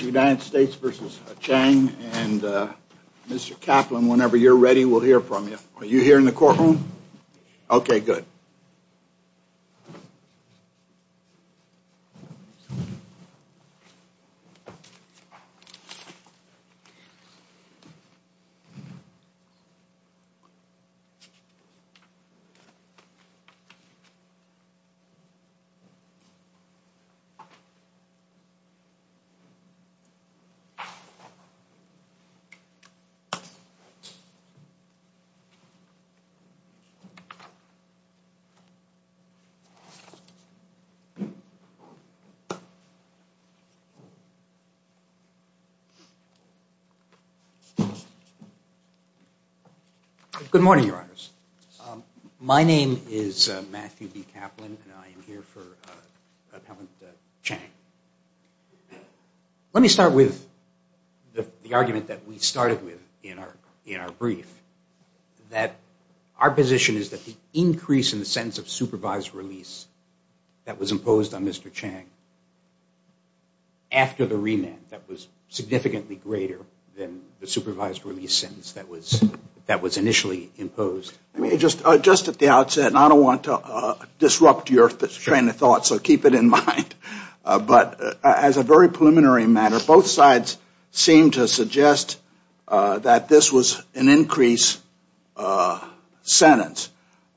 United States v. Chang and Mr. Kaplan, whenever you're ready, we'll hear from you. Are you here in the courtroom? Okay, good. Good morning, Your Honors. My name is Matthew B. Kaplan and I'm here for Appellant Chang. Let me start with the argument that we started with in our brief, that our position is that the increase in the sentence of supervised release that was imposed on Mr. Chang after the remand that was significantly greater than the supervised release sentence that was initially imposed. Just at the outset, and I don't want to disrupt your train of thought, so keep it in mind, but as a very preliminary matter, both sides seem to suggest that this was an increase sentence.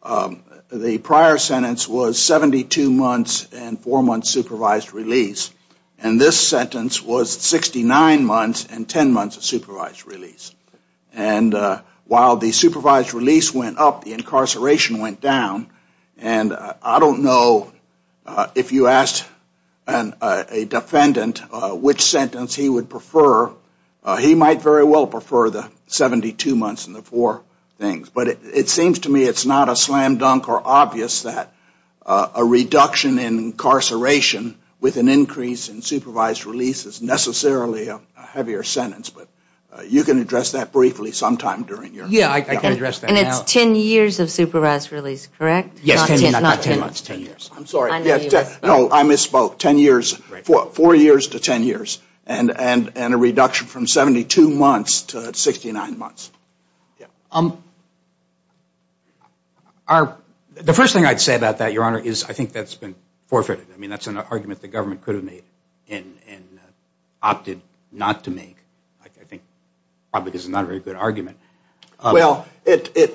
The prior sentence was 72 months and four months supervised release. And this sentence was 69 months and 10 months of supervised release. And while the supervised release went up, the incarceration went down. And I don't know if you asked a defendant which sentence he would prefer. He might very well prefer the 72 months and the four things. But it seems to me it's not a slam dunk or obvious that a reduction in incarceration with an increase in supervised release is necessarily a heavier sentence. But you can address that briefly sometime during your... Yeah, I can address that now. And it's 10 years of supervised release, correct? Yes, 10 years. I'm sorry. No, I misspoke. Four years to 10 years. And a reduction from 72 months to 69 months. The first thing I'd say about that, Your Honor, is I think that's been forfeited. I mean, that's an argument the government could have made and opted not to make. I think probably this is not a very good argument. Well, it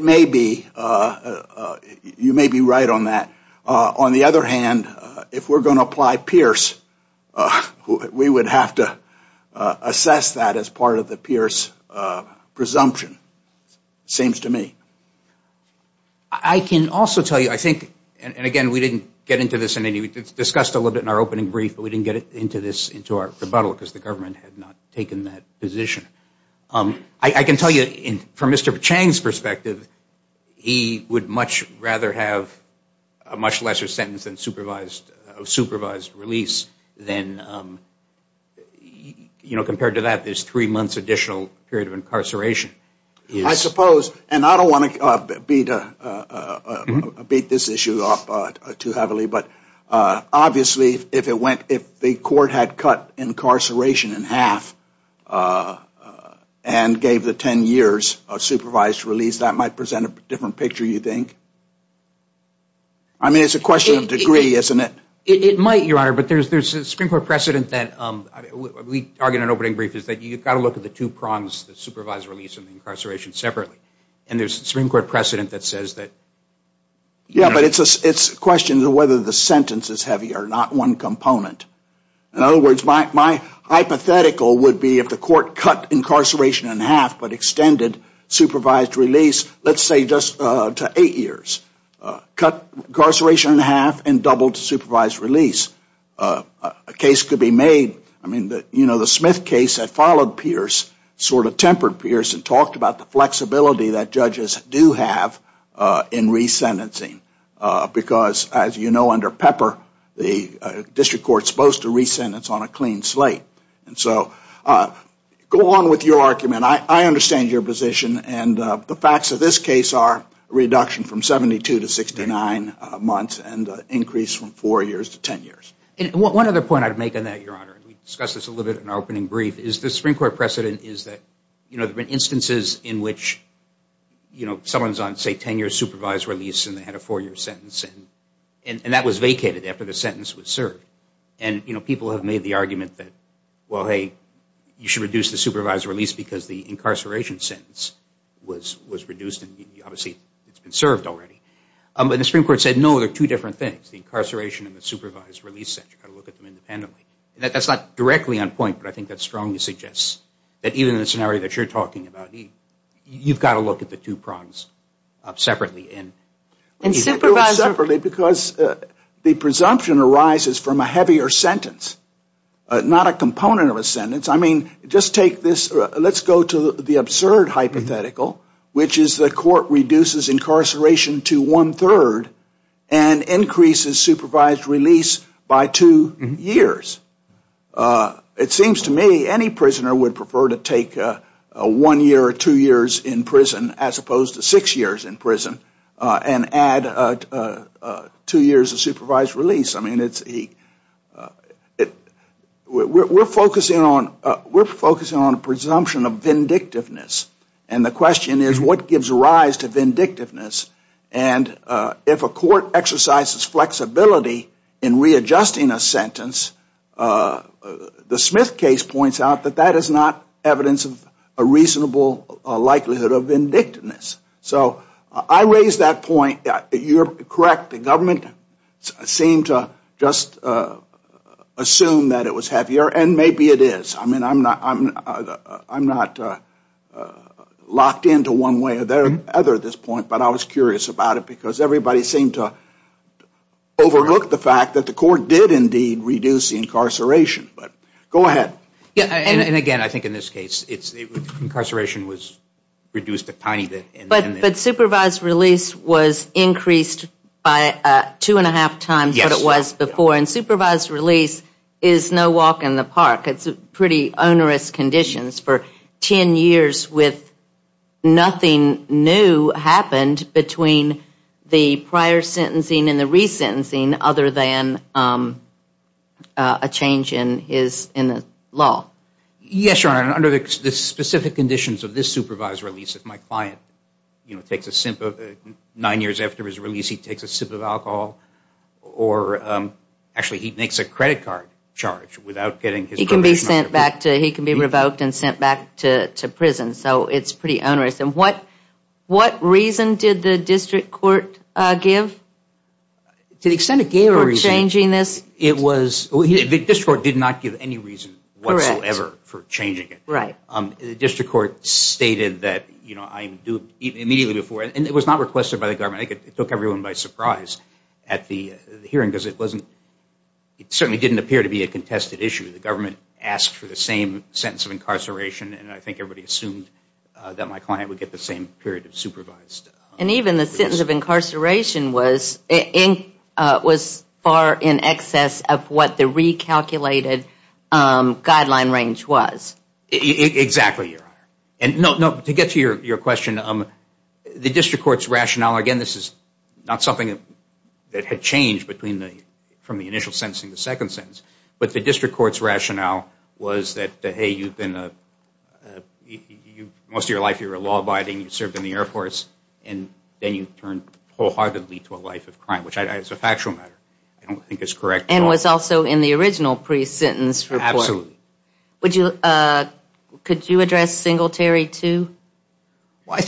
may be. You may be right on that. On the other hand, if we're going to apply Pierce, we would have to assess that as part of the Pierce presumption, seems to me. I can also tell you, I think, and again, we didn't get into this in any, it's discussed a little bit in our opening brief, but we didn't get into this into our rebuttal because the government had not taken that position. I can tell you from Mr. Chang's perspective, he would much rather have a much lesser sentence than supervised release than, you know, compared to that, there's three months additional period of incarceration. I suppose, and I don't want to beat this issue up too heavily, but obviously if it went, if the court had cut incarceration in half and gave the 10 years of supervised release, that might present a different picture, you think? I mean, it's a question of degree, isn't it? It might, Your Honor, but there's a Supreme Court precedent that we argue in an opening brief is that you've got to look at the two prongs, the supervised release and the incarceration separately. And there's a Supreme Court precedent that says that. Yeah, but it's a question of whether the sentence is heavier, not one component. In other words, my hypothetical would be if the court cut incarceration in half but extended supervised release, let's say just to eight years, cut incarceration in half and doubled supervised release, a case could be made. I mean, you know, the Smith case that followed Pierce sort of tempered Pierce and talked about the flexibility that judges do have in re-sentencing because, as you know, under Pepper, the district court is supposed to re-sentence on a clean slate. And so go on with your argument. I understand your position and the facts of this case are reduction from 72 to 69 months and increase from four years to 10 years. And one other point I'd make on that, Your Honor, and we discussed this a little bit in our opening brief, is the Supreme Court precedent is that, you know, there have been instances in which, you know, someone's on, say, 10-year supervised release and they had a four-year sentence and that was vacated after the sentence was served. And, you know, people have made the argument that, well, hey, you should reduce the supervised release because the incarceration sentence was reduced and obviously it's been served already. But the Supreme Court said, no, there are two different things, the incarceration and the supervised release. You've got to look at them independently. That's not directly on point, but I think that strongly suggests that even in the scenario that you're talking about, you've got to look at the two prongs separately. Because the presumption arises from a heavier sentence, not a component of a sentence. I mean, just take this, let's go to the absurd hypothetical, which is the court reduces incarceration to one-third and increases supervised release by two years. It seems to me any prisoner would prefer to take one year or two years in prison as opposed to six years in prison and add two years of supervised release. I mean, we're focusing on a presumption of vindictiveness. And the question is, what gives rise to vindictiveness? And if a court exercises flexibility in readjusting a sentence, the Smith case points out that that is not evidence of a reasonable likelihood of vindictiveness. So I raise that point, you're correct, the government seemed to just assume that it was heavier and maybe it is. I mean, I'm not locked into one way or the other at this point, but I was curious about it because everybody seemed to overlook the fact that the court did indeed reduce the incarceration. But go ahead. And again, I think in this case, incarceration was reduced a tiny bit. But supervised release was increased by two-and-a-half times what it was before. And supervised release is no walk in the park. It's pretty onerous conditions for 10 years with nothing new happened between the prior sentencing and the resentencing other than a change in the sentence. Yes, Your Honor, under the specific conditions of this supervised release, if my client takes a sip of, nine years after his release, he takes a sip of alcohol, or actually he makes a credit card charge without getting his probation. He can be sent back to, he can be revoked and sent back to prison. So it's pretty onerous. And what reason did the district court give for changing this? The district court did not give any reason whatsoever for changing it. The district court stated that, immediately before, and it was not requested by the government. It took everyone by surprise at the hearing because it certainly didn't appear to be a contested issue. The government asked for the same sentence of incarceration and I think everybody assumed that my client would get the same period of supervised release. And even the sentence of incarceration was far in excess of what the recalculated guideline range was. Exactly, Your Honor. And to get to your question, the district court's rationale, again, this is not something that had changed from the initial sentence to the second sentence. But the district court's rationale was that, hey, most of your life you were a law abiding, you served in the Air Force, and then you turned wholeheartedly to a life of crime, which is a factual matter. And was also in the original pre-sentence report. Could you address Singletary too?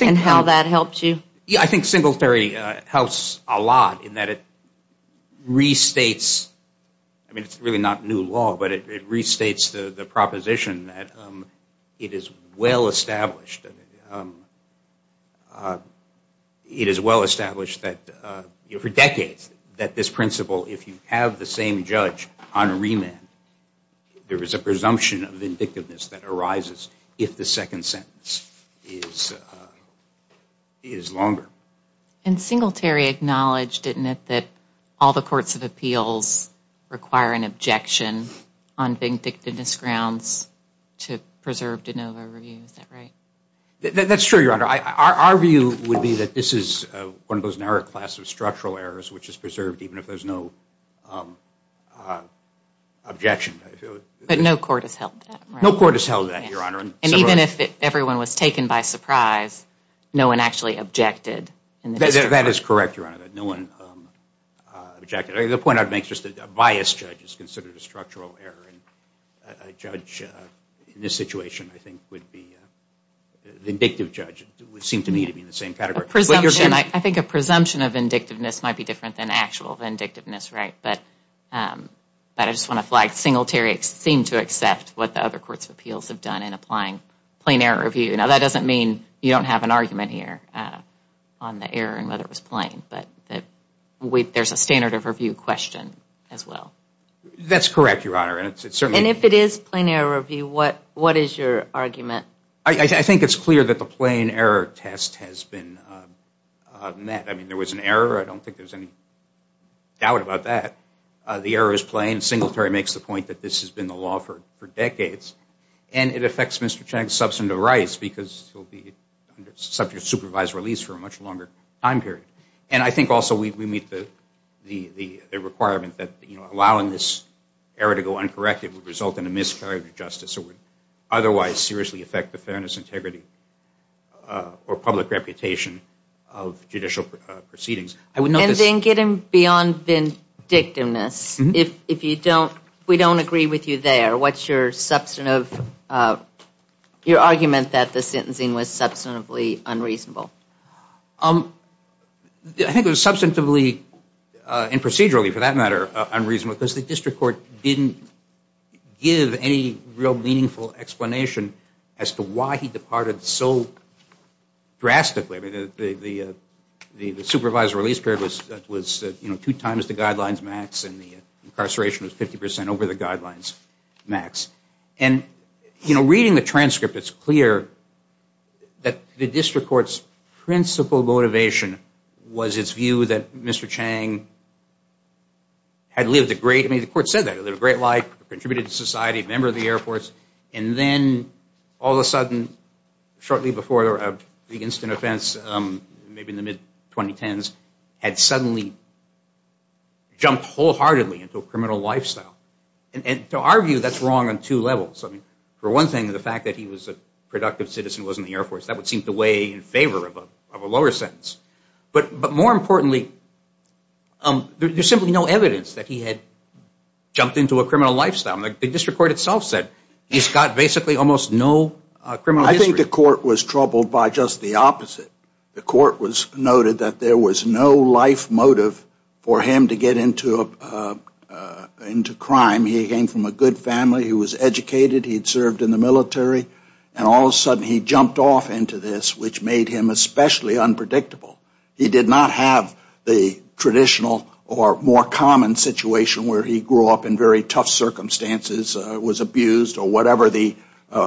And how that helped you? Yeah, I think Singletary helps a lot in that it restates, I mean it's really not new law, but it restates the proposition that it is well established. It is well established that for decades that this principle, if you have the same judge on remand, there is a presumption of vindictiveness that arises if the second sentence is longer. And Singletary acknowledged, didn't it, that all the courts of appeals require an objection on vindictiveness grounds to preserve de novo review, is that right? That's true, Your Honor. Our view would be that this is one of those narrow classes of structural errors which is preserved even if there's no objection. But no court has held that. No court has held that, Your Honor. And even if everyone was taken by surprise, no one actually objected. That is correct, Your Honor, that no one objected. The point I would make is that a biased judge is considered a structural error. A judge in this situation, I think, would be, the indicative judge would seem to me to be in the same category. I think a presumption of vindictiveness might be different than actual vindictiveness, right? But I just want to flag Singletary seemed to accept what the other courts of appeals have done in applying plain error review. Now, that doesn't mean you don't have an argument here on the error and whether it was plain. But there's a standard of review question as well. That's correct, Your Honor. And if it is plain error review, what is your argument? I think it's clear that the plain error test has been met. I mean, there was an error. I don't think there's any doubt about that. The error is plain. Singletary makes the point that this has been the law for decades. And it affects Mr. Chang's substantive rights because he'll be subject to supervised release for a much longer time period. And I think also we meet the requirement that allowing this error to go uncorrected would result in a miscarriage of justice or would otherwise seriously affect the fairness, integrity, or public reputation of judicial proceedings. And then getting beyond vindictiveness, if we don't agree with you there, what's your argument that the sentencing was substantively unreasonable? I think it was substantively and procedurally, for that matter, unreasonable because the district court didn't give any real meaningful explanation as to why he departed so drastically. I mean, the supervised release period was, you know, two times the guidelines max and the incarceration was 50 percent over the guidelines max. And, you know, reading the transcript, it's clear that the district court's principal motivation was its view that Mr. Chang had lived a great, I mean, the court said that, lived a great life, contributed to society, member of the Air Force. And then all of a sudden, shortly before the instant offense, maybe in the mid-2010s, had suddenly jumped wholeheartedly into a criminal lifestyle. And to our view, that's wrong on two levels. I mean, for one thing, the fact that he was a productive citizen who was in the Air Force, that would seem to weigh in favor of a lower sentence. But more importantly, there's simply no evidence that he had jumped into a criminal lifestyle. The district court itself said he's got basically almost no criminal history. I think the court was troubled by just the opposite. The court noted that there was no life motive for him to get into crime. He came from a good family. He was educated. He had served in the military. And all of a sudden, he jumped off into this, which made him especially unpredictable. He did not have the traditional or more common situation where he grew up in very tough circumstances, was abused, or whatever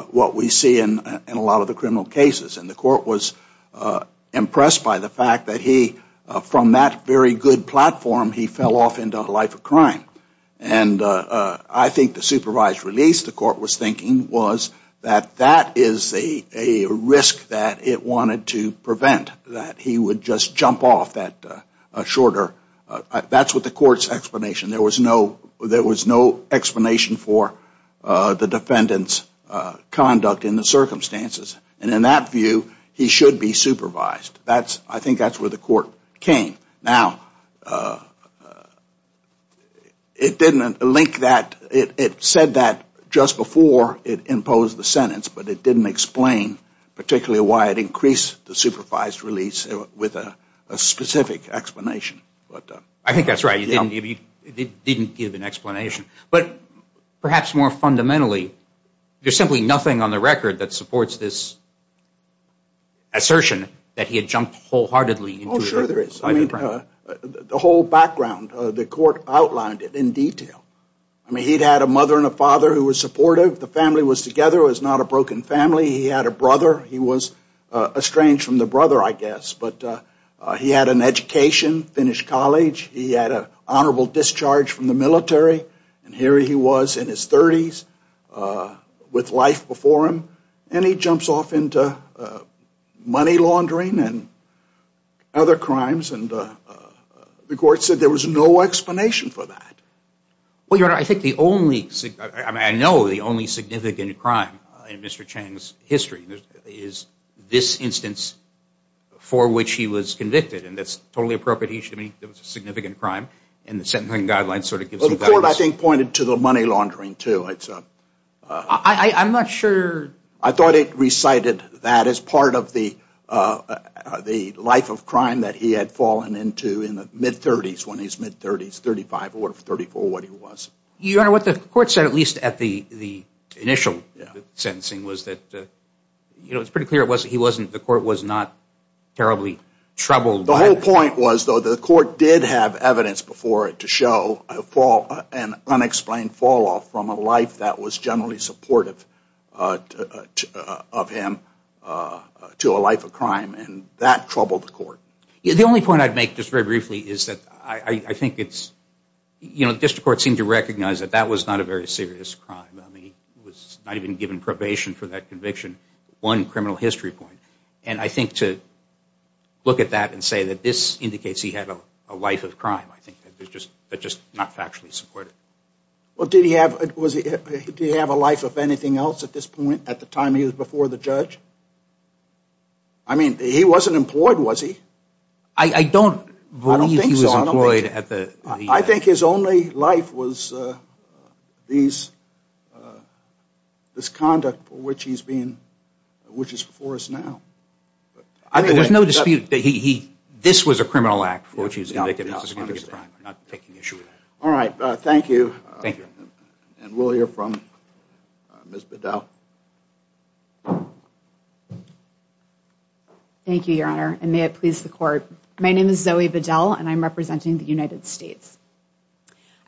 what we see in a lot of the criminal cases. And the court was impressed by the fact that he, from that very good platform, he fell off into a life of crime. And I think the supervised release, the court was thinking, was that that is a risk that it wanted to prevent, that he would just jump off that shorter. That's what the court's explanation. There was no explanation for the defendant's conduct in the circumstances. And in that view, he should be supervised. I think that's where the court came. Now, it didn't link that. It said that just before it imposed the sentence, but it didn't explain particularly why it increased the supervised release with a specific explanation. I think that's right. It didn't give an explanation. But perhaps more fundamentally, there's simply nothing on the record that supports this assertion that he had jumped wholeheartedly. Oh, sure there is. I mean, the whole background, the court outlined it in detail. I mean, he'd had a mother and a father who were supportive. The family was together. It was not a broken family. He had a brother. He was estranged from the brother, I guess. But he had an education, finished college. He had an honorable discharge from the military. And here he was in his 30s with life before him. And he jumps off into money laundering and other crimes. And the court said there was no explanation for that. Well, Your Honor, I think the only – I mean, I know the only significant crime in Mr. Chang's history is this instance for which he was convicted. And that's totally appropriate. He should be – it was a significant crime. And the sentencing guidelines sort of gives you guidance. Well, the court, I think, pointed to the money laundering, too. I'm not sure. I thought it recited that as part of the life of crime that he had fallen into in the mid-30s, when he's mid-30s, 35 or 34, what he was. Your Honor, what the court said, at least at the initial sentencing, was that it was pretty clear it wasn't – the court was not terribly troubled. The whole point was, though, the court did have evidence before it of an unexplained fall-off from a life that was generally supportive of him to a life of crime. And that troubled the court. The only point I'd make, just very briefly, is that I think it's – the district court seemed to recognize that that was not a very serious crime. He was not even given probation for that conviction, one criminal history point. And I think to look at that and say that this indicates he had a life of crime, I think that's just not factually supported. Well, did he have – was he – did he have a life of anything else at this point, at the time he was before the judge? I mean, he wasn't employed, was he? I don't believe he was employed at the – I think his only life was these – this conduct for which he's being – which is before us now. There's no dispute that he – this was a criminal act for which he was convicted of a significant crime. I'm not taking issue with that. All right. Thank you. Thank you. And we'll hear from Ms. Bedell. Thank you, Your Honor, and may it please the court. My name is Zoe Bedell, and I'm representing the United States.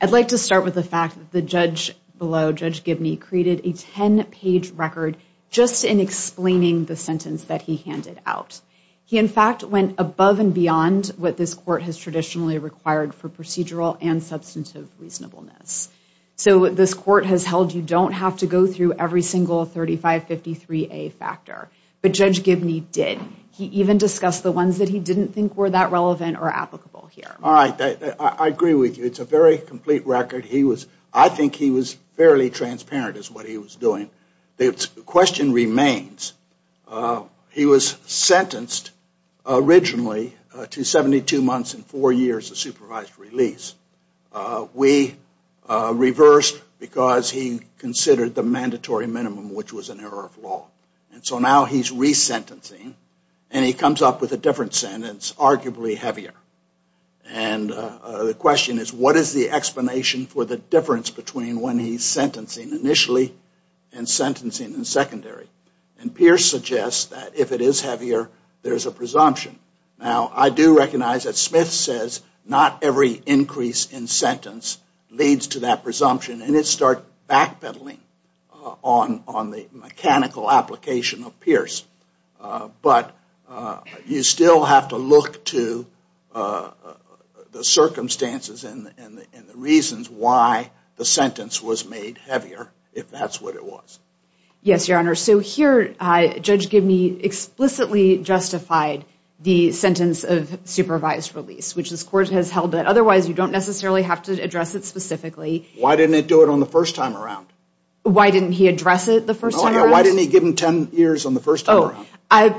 I'd like to start with the fact that the judge below, Judge Gibney, created a 10-page record just in explaining the sentence that he handed out. He, in fact, went above and beyond what this court has traditionally required for procedural and substantive reasonableness. So this court has held you don't have to go through every single 3553A factor, but Judge Gibney did. He even discussed the ones that he didn't think were that relevant or applicable here. All right. I agree with you. It's a very complete record. He was – I think he was fairly transparent as what he was doing. The question remains, he was sentenced originally to 72 months and four years of supervised release. We reversed because he considered the mandatory minimum, which was an error of law. And so now he's resentencing, and he comes up with a different sentence, arguably heavier. And the question is, what is the explanation for the difference between when he's sentencing initially and sentencing in secondary? And Pierce suggests that if it is heavier, there's a presumption. Now, I do recognize that Smith says not every increase in sentence leads to that presumption, and it starts backpedaling on the mechanical application of Pierce. But you still have to look to the circumstances and the reasons why the sentence was made heavier if that's what it was. Yes, Your Honor. So here, Judge Gibney explicitly justified the sentence of supervised release, which this court has held that otherwise you don't necessarily have to address it specifically. Why didn't it do it on the first time around? Why didn't he address it the first time around? Why didn't he give him 10 years on the first time around?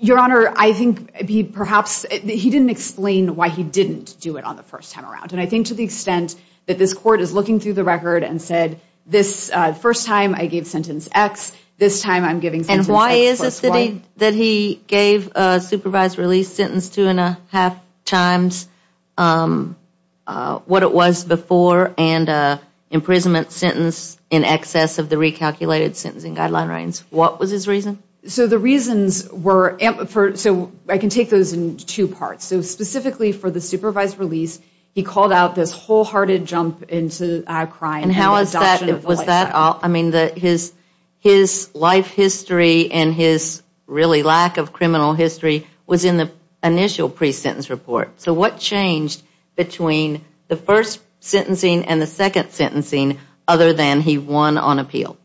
Your Honor, I think he perhaps – he didn't explain why he didn't do it on the first time around. And I think to the extent that this court is looking through the record and said, this first time I gave sentence X, this time I'm giving sentence X plus Y. And why is it that he gave a supervised release sentence two and a half times what it was before and an imprisonment sentence in excess of the recalculated sentencing guidelines? What was his reason? So the reasons were – so I can take those in two parts. So specifically for the supervised release, he called out this wholehearted jump into crime and the adoption of the life sentence. And how is that – was that – I mean, his life history and his really lack of criminal history was in the initial pre-sentence report. So what changed between the first sentencing and the second sentencing other than he won on appeal?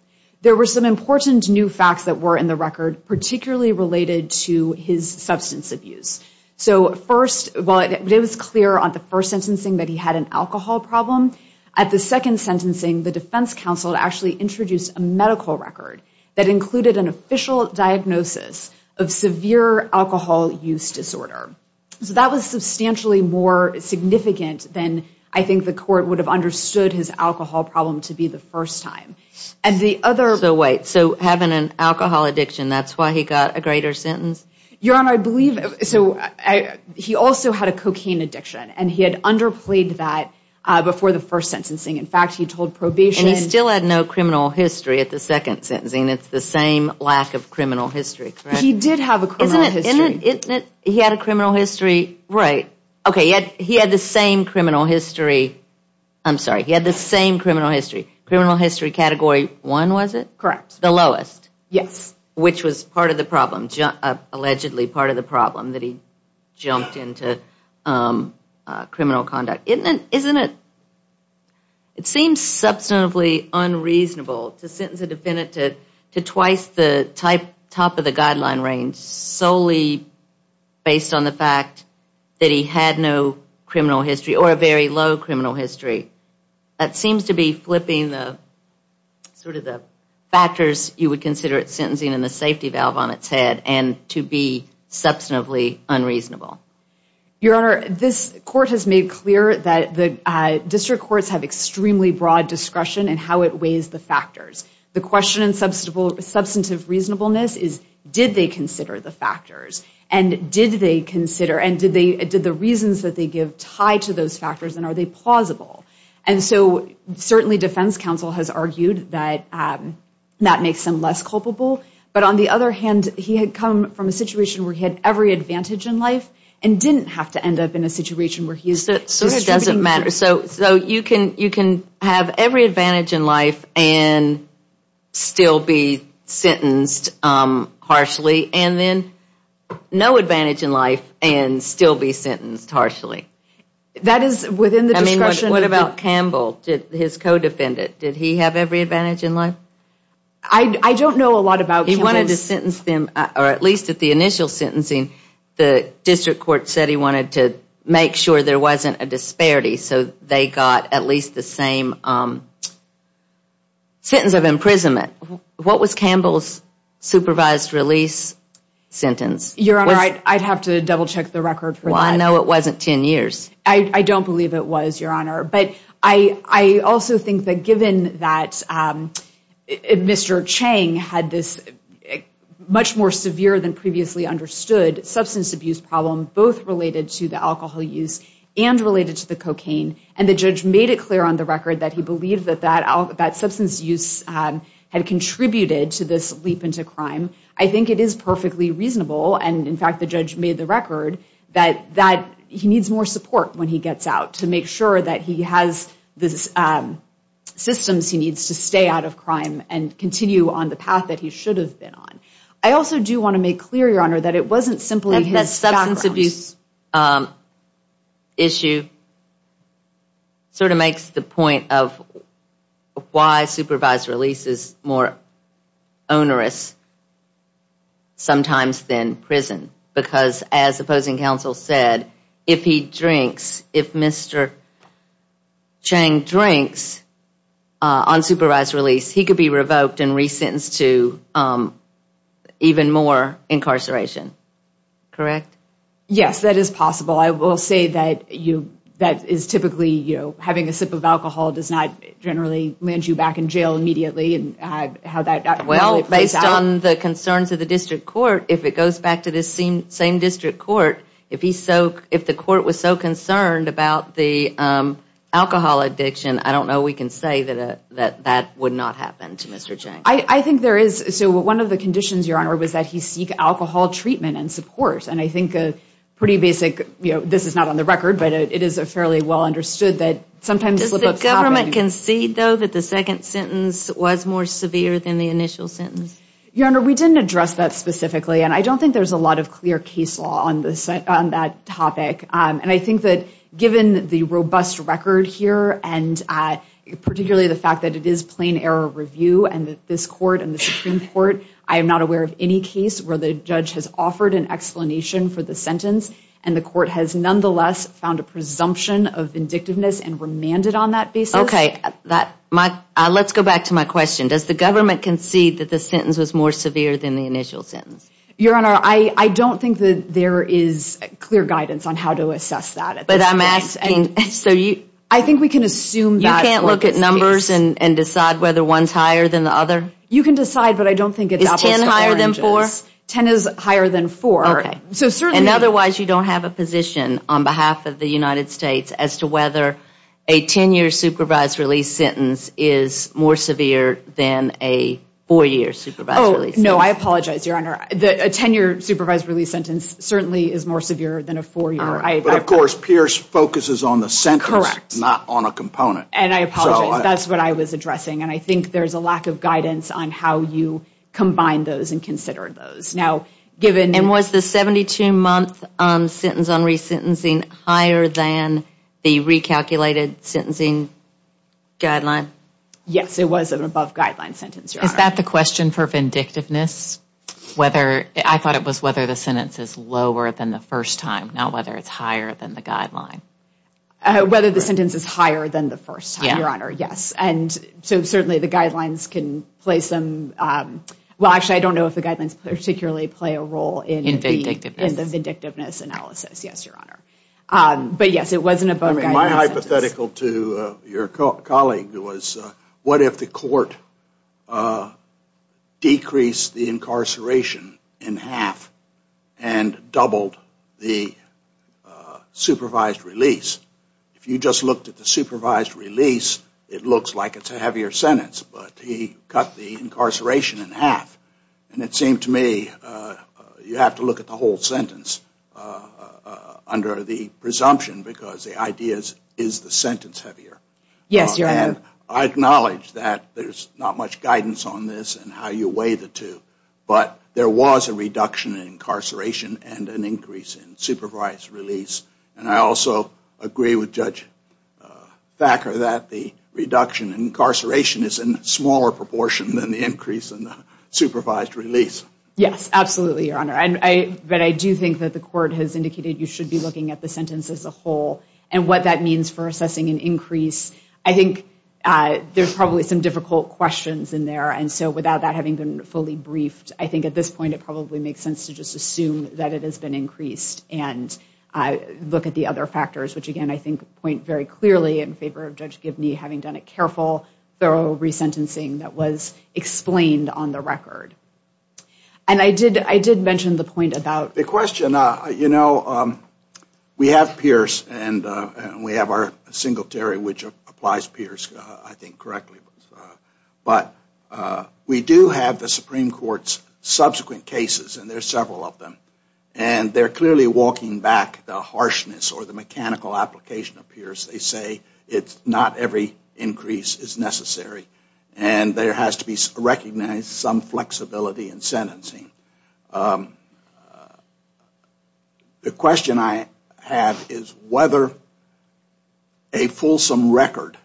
There were some important new facts that were in the record, particularly related to his substance abuse. So first, while it was clear on the first sentencing that he had an alcohol problem, at the second sentencing the defense counsel actually introduced a medical record that included an official diagnosis of severe alcohol use disorder. So that was substantially more significant than I think the court would have understood his alcohol problem to be the first time. And the other – So wait, so having an alcohol addiction, that's why he got a greater sentence? Your Honor, I believe – so he also had a cocaine addiction, and he had underplayed that before the first sentencing. In fact, he told probation – And he still had no criminal history at the second sentencing. It's the same lack of criminal history, correct? He did have a criminal history. Isn't it – isn't it – he had a criminal history – right. Okay, he had the same criminal history – I'm sorry, he had the same criminal history. Criminal history category one, was it? Correct. The lowest. Yes. Which was part of the problem, allegedly part of the problem, that he jumped into criminal conduct. Isn't it – it seems substantively unreasonable to sentence a defendant to twice the top of the guideline range solely based on the fact that he had no criminal history or a very low criminal history. That seems to be flipping the – sort of the factors you would consider it sentencing and the safety valve on its head, and to be substantively unreasonable. Your Honor, this court has made clear that the district courts have extremely broad discretion in how it weighs the factors. The question in substantive reasonableness is, did they consider the factors? And did they consider – and did the reasons that they give tie to those factors, and are they plausible? And so certainly defense counsel has argued that that makes them less culpable. But on the other hand, he had come from a situation where he had every advantage in life and didn't have to end up in a situation where he is – So it doesn't matter. So you can have every advantage in life and still be sentenced harshly, and then no advantage in life and still be sentenced harshly. That is within the discretion of the – I mean, what about Campbell, his co-defendant? Did he have every advantage in life? I don't know a lot about Campbell's – He wanted to sentence them, or at least at the initial sentencing, the district court said he wanted to make sure there wasn't a disparity, so they got at least the same sentence of imprisonment. What was Campbell's supervised release sentence? Your Honor, I'd have to double check the record for that. Well, I know it wasn't 10 years. I don't believe it was, Your Honor. But I also think that given that Mr. Chang had this much more severe than previously understood substance abuse problem, both related to the alcohol use and related to the cocaine, and the judge made it clear on the record that he believed that substance use had contributed to this leap into crime, I think it is perfectly reasonable, and in fact the judge made the record, that he needs more support when he gets out to make sure that he has the systems he needs to stay out of crime and continue on the path that he should have been on. I also do want to make clear, Your Honor, that it wasn't simply his background. That substance abuse issue sort of makes the point of why supervised release is more onerous sometimes than prison, because as opposing counsel said, if he drinks, if Mr. Chang drinks on supervised release, he could be revoked and resentenced to even more incarceration. Correct? Yes, that is possible. I will say that is typically having a sip of alcohol does not generally land you back in jail immediately. Based on the concerns of the district court, if it goes back to the same district court, if the court was so concerned about the alcohol addiction, I don't know we can say that that would not happen to Mr. Chang. I think there is, so one of the conditions, Your Honor, was that he seek alcohol treatment and support, and I think a pretty basic, this is not on the record, but it is fairly well understood that sometimes Does the government concede, though, that the second sentence was more severe than the initial sentence? Your Honor, we didn't address that specifically, and I don't think there's a lot of clear case law on that topic, and I think that given the robust record here, and particularly the fact that it is plain error review, and that this court and the Supreme Court, I am not aware of any case where the judge has offered an explanation for the sentence and the court has nonetheless found a presumption of vindictiveness and remanded on that basis. Okay, let's go back to my question. Does the government concede that the sentence was more severe than the initial sentence? Your Honor, I don't think that there is clear guidance on how to assess that. But I'm asking, so you I think we can assume that You can't look at numbers and decide whether one's higher than the other? You can decide, but I don't think it doubles four inches. Is ten higher than four? Ten is higher than four. So certainly And otherwise you don't have a position on behalf of the United States as to whether a ten-year supervised release sentence is more severe than a four-year supervised release sentence. Oh, no, I apologize, Your Honor. A ten-year supervised release sentence certainly is more severe than a four-year. But of course, Pierce focuses on the sentence, not on a component. And I apologize. That's what I was addressing, and I think there's a lack of guidance on how you combine those and consider those. And was the 72-month sentence on resentencing higher than the recalculated sentencing guideline? Yes, it was an above-guideline sentence, Your Honor. Is that the question for vindictiveness? I thought it was whether the sentence is lower than the first time, not whether it's higher than the guideline. Whether the sentence is higher than the first time, Your Honor, yes. And so certainly the guidelines can place them Well, actually, I don't know if the guidelines particularly play a role in the vindictiveness analysis, yes, Your Honor. But yes, it was an above-guideline sentence. My hypothetical to your colleague was what if the court decreased the incarceration in half and doubled the supervised release? If you just looked at the supervised release, it looks like it's a heavier sentence, but he cut the incarceration in half. And it seemed to me you have to look at the whole sentence under the presumption because the idea is the sentence heavier. Yes, Your Honor. And I acknowledge that there's not much guidance on this and how you weigh the two, but there was a reduction in incarceration and an increase in supervised release. And I also agree with Judge Thacker that the reduction in incarceration is in smaller proportion than the increase in the supervised release. Yes, absolutely, Your Honor. But I do think that the court has indicated you should be looking at the sentence as a whole and what that means for assessing an increase. I think there's probably some difficult questions in there, and so without that having been fully briefed, I think at this point it probably makes sense to just assume that it has been increased and look at the other factors, which again I think point very clearly in favor of Judge Gibney having done a careful, thorough resentencing that was explained on the record. And I did mention the point about... The question, you know, we have Pierce and we have our Singletary, which applies Pierce, I think, correctly. But we do have the Supreme Court's subsequent cases, and there are several of them, and they're clearly walking back the harshness or the mechanical application of Pierce. They say not every increase is necessary, and there has to be recognized some flexibility in sentencing. The question I have is whether a fulsome record,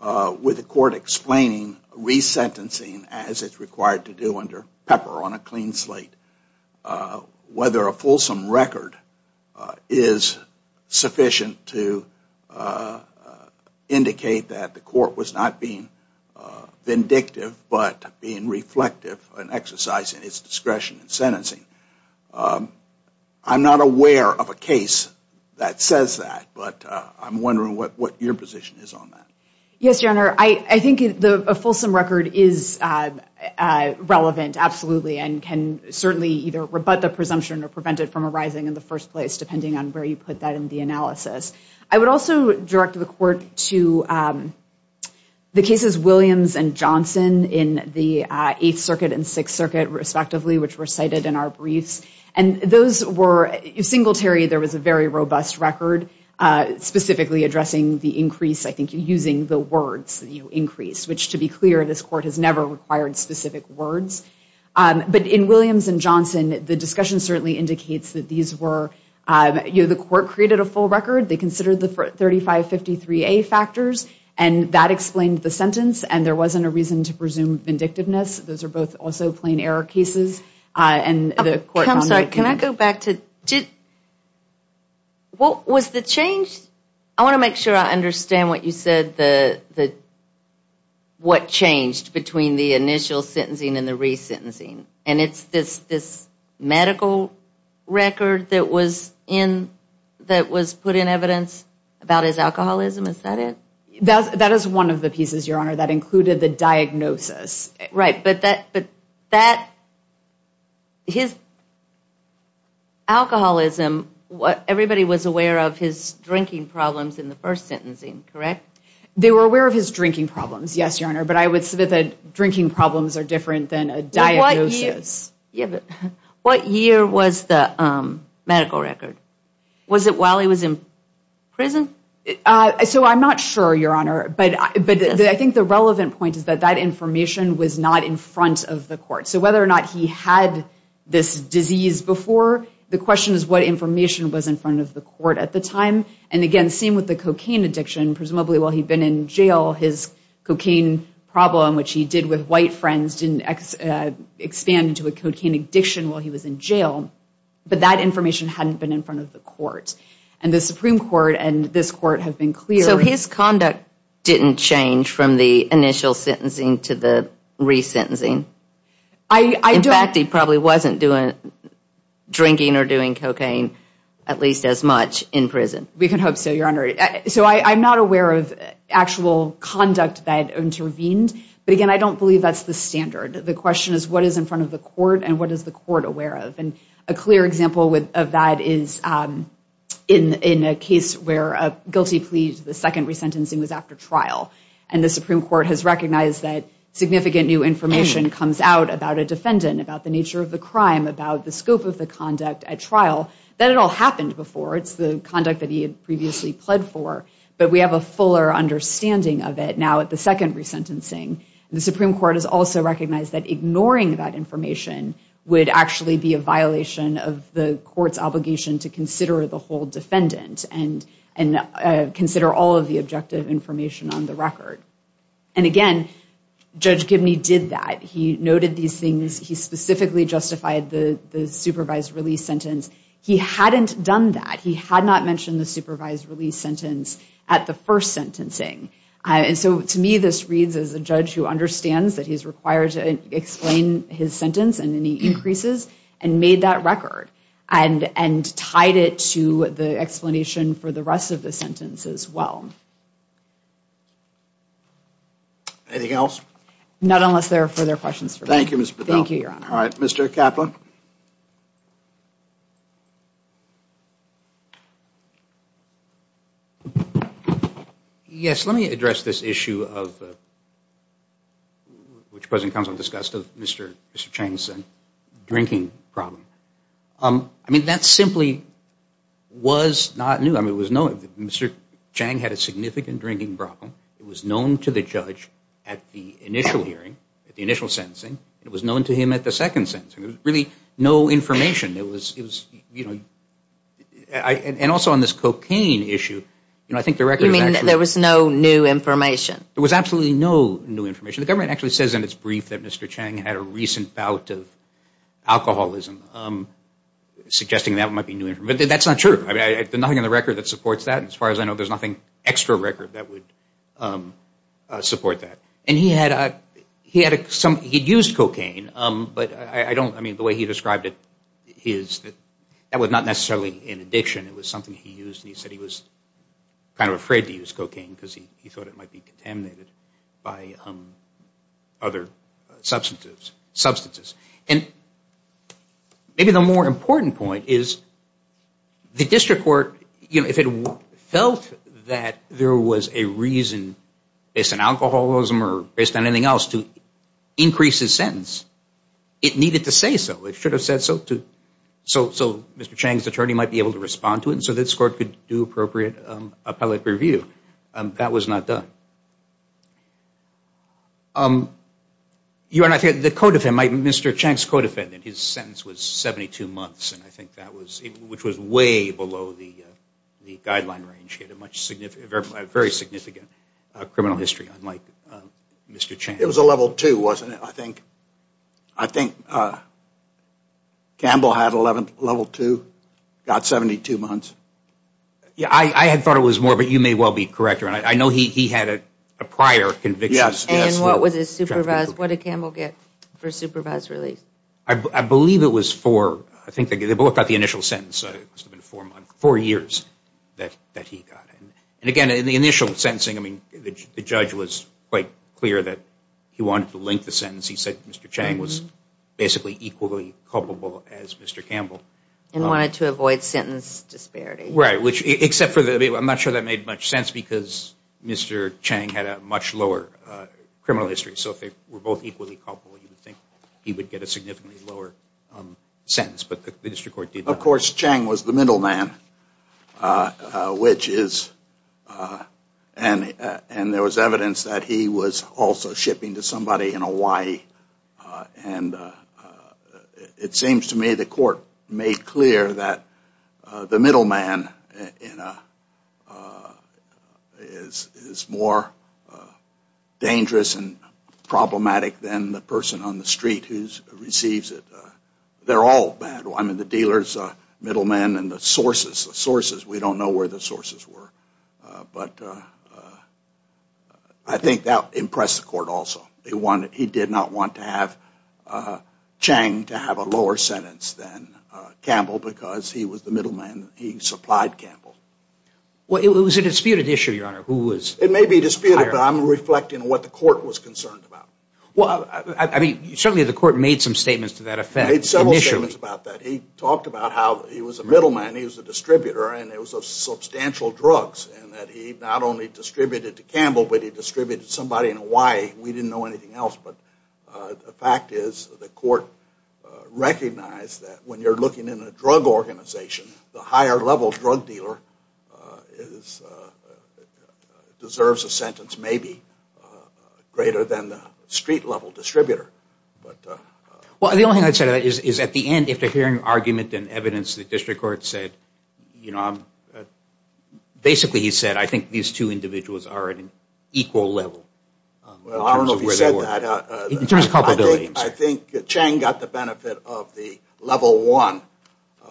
with the court explaining resentencing as it's required to do under Pepper on a clean slate, whether a fulsome record is sufficient to indicate that the court was not being vindictive but being reflective and exercising its discretion in sentencing. I'm not aware of a case that says that, but I'm wondering what your position is on that. Yes, Your Honor. I think a fulsome record is relevant, absolutely, and can certainly either rebut the presumption or prevent it from arising in the first place, depending on where you put that in the analysis. I would also direct the court to the cases Williams and Johnson in the Eighth Circuit and Sixth Circuit, respectively, which were cited in our briefs. And those were... In Singletary, there was a very robust record specifically addressing the increase, I think using the words, you know, increase, which, to be clear, this court has never required specific words. But in Williams and Johnson, the discussion certainly indicates that these were... You know, the court created a full record. They considered the 3553A factors, and that explained the sentence, and there wasn't a reason to presume vindictiveness. Those are both also plain error cases, and the court... I'm sorry. Can I go back to... What was the change? I want to make sure I understand what you said, what changed between the initial sentencing and the resentencing. And it's this medical record that was in... that was put in evidence about his alcoholism. Is that it? That is one of the pieces, Your Honour, that included the diagnosis. Right, but that... His alcoholism, everybody was aware of his drinking problems in the first sentencing, correct? They were aware of his drinking problems, yes, Your Honour, but I would submit that drinking problems are different than a diagnosis. What year was the medical record? Was it while he was in prison? So I'm not sure, Your Honour, but I think the relevant point is that that information was not in front of the court. So whether or not he had this disease before, the question is what information was in front of the court at the time. And again, same with the cocaine addiction, presumably while he'd been in jail, his cocaine problem, which he did with white friends, didn't expand into a cocaine addiction while he was in jail, but that information hadn't been in front of the court. And the Supreme Court and this court have been clear... So his conduct didn't change from the initial sentencing to the resentencing? In fact, he probably wasn't drinking or doing cocaine at least as much in prison. We can hope so, Your Honour. So I'm not aware of actual conduct that intervened, but again, I don't believe that's the standard. The question is what is in front of the court and what is the court aware of? And a clear example of that is in a case where a guilty plea to the second resentencing was after trial, and the Supreme Court has recognized that significant new information comes out about a defendant, about the nature of the crime, about the scope of the conduct at trial, that it all happened before. It's the conduct that he had previously pled for, but we have a fuller understanding of it now at the second resentencing. The Supreme Court has also recognized that ignoring that information would actually be a violation of the court's obligation to consider the whole defendant and consider all of the objective information on the record. And again, Judge Gibney did that. He noted these things. He specifically justified the supervised release sentence. He hadn't done that. He had not mentioned the supervised release sentence at the first sentencing. And so to me, this reads as a judge who understands that he's required to explain his sentence and any increases and made that record and tied it to the explanation for the rest of the sentence as well. Anything else? Not unless there are further questions for me. Thank you, Mr. Bedell. Thank you, Your Honor. All right, Mr. Kaplan. Yes, let me address this issue which President Konstantinovich discussed of Mr. Chang's drinking problem. I mean, that simply was not new. Mr. Chang had a significant drinking problem. It was known to the judge at the initial hearing, at the initial sentencing. It was known to him at the second sentencing. There was really no information. It was, you know, and also on this cocaine issue, you know, I think the record is actually... You mean there was no new information? There was absolutely no new information. The government actually says in its brief that Mr. Chang had a recent bout of alcoholism, suggesting that might be new information. But that's not true. I mean, there's nothing in the record that supports that. As far as I know, there's nothing extra record that would support that. And he had some... He'd used cocaine, but I don't... I mean, the way he described it, that was not necessarily an addiction. It was something he used, and he said he was kind of afraid to use cocaine because he thought it might be contaminated by other substances. And maybe the more important point is the district court, you know, if it felt that there was a reason based on alcoholism or based on anything else to increase his sentence, it needed to say so. It should have said so so Mr. Chang's attorney might be able to respond to it and so this court could do appropriate appellate review. That was not done. The codefendant, Mr. Chang's codefendant, his sentence was 72 months, and I think that was... which was way below the guideline range. Very significant criminal history, unlike Mr. Chang. It was a level two, wasn't it, I think? I think Campbell had a level two, got 72 months. Yeah, I had thought it was more, but you may well be correct. I know he had a prior conviction. Yes, yes. And what did Campbell get for supervised release? I believe it was four. I think they both got the initial sentence. Four years that he got. And again, in the initial sentencing, I mean, the judge was quite clear that he wanted to link the sentence. He said Mr. Chang was basically equally culpable as Mr. Campbell. And wanted to avoid sentence disparity. Right, except for the... I'm not sure that made much sense because Mr. Chang had a much lower criminal history, so if they were both equally culpable, you would think he would get a significantly lower sentence, but the district court did not. Of course, Chang was the middleman, and there was evidence that he was also shipping to somebody in Hawaii, and it seems to me the court made clear that the middleman is more dangerous and problematic than the person on the street who receives it. They're all bad. I mean, the dealers, middlemen, and the sources. We don't know where the sources were, but I think that impressed the court also. He did not want to have Chang to have a lower sentence than Campbell because he was the middleman. He supplied Campbell. Well, it was a disputed issue, Your Honor. It may be disputed, but I'm reflecting on what the court was concerned about. Well, I mean, certainly the court made some statements to that effect initially. He made statements about that. He talked about how he was a middleman, he was a distributor, and it was of substantial drugs and that he not only distributed to Campbell, but he distributed to somebody in Hawaii. We didn't know anything else, but the fact is the court recognized that when you're looking in a drug organization, the higher-level drug dealer deserves a sentence maybe greater than the street-level distributor. Well, the only thing I'd say to that is at the end, after hearing argument and evidence, the district court said, you know, basically he said, I think these two individuals are at an equal level. Well, I don't know if he said that. In terms of culpability. I think Chang got the benefit of the level one,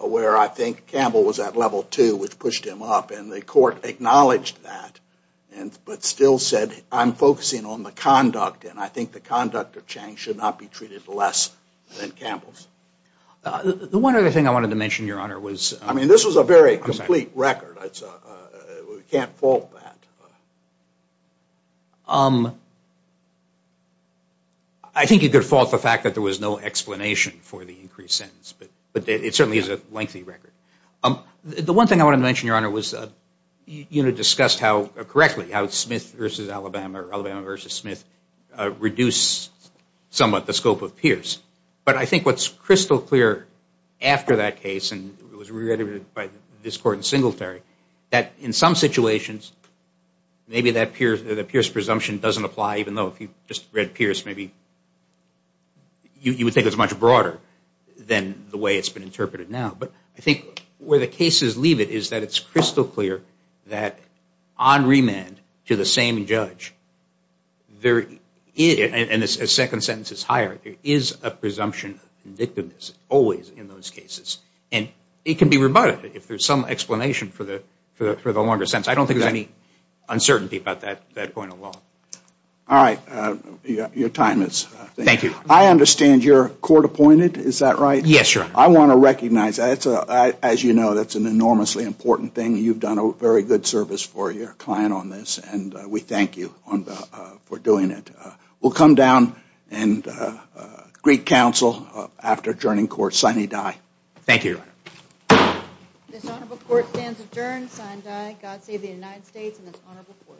where I think Campbell was at level two, which pushed him up, and the court acknowledged that, but still said, I'm focusing on the conduct, and I think the conduct of Chang should not be treated less than Campbell's. The one other thing I wanted to mention, Your Honor, was... I mean, this was a very complete record. We can't fault that. I think you could fault the fact that there was no explanation for the increased sentence, but it certainly is a lengthy record. The one thing I wanted to mention, Your Honor, was you discussed how, correctly, how Smith versus Alabama reduced somewhat the scope of Pierce. But I think what's crystal clear after that case, and it was reiterated by this court in Singletary, that in some situations, maybe that Pierce presumption doesn't apply, even though if you just read Pierce, maybe you would think it was much broader than the way it's been interpreted now. But I think where the cases leave it is that it's crystal clear that on remand to the same judge, and a second sentence is higher, there is a presumption of vindictiveness always in those cases. And it can be rebutted if there's some explanation for the longer sentence. I don't think there's any uncertainty about that going along. All right. Your time is up. Thank you. I understand you're court-appointed. Is that right? Yes, Your Honor. I want to recognize that. As you know, that's an enormously important thing. You've done a very good service for your client on this, and we thank you for doing it. We'll come down and greet counsel after adjourning court. Signee die. Thank you, Your Honor. This honorable court stands adjourned. Signee die. God save the United States and this honorable court.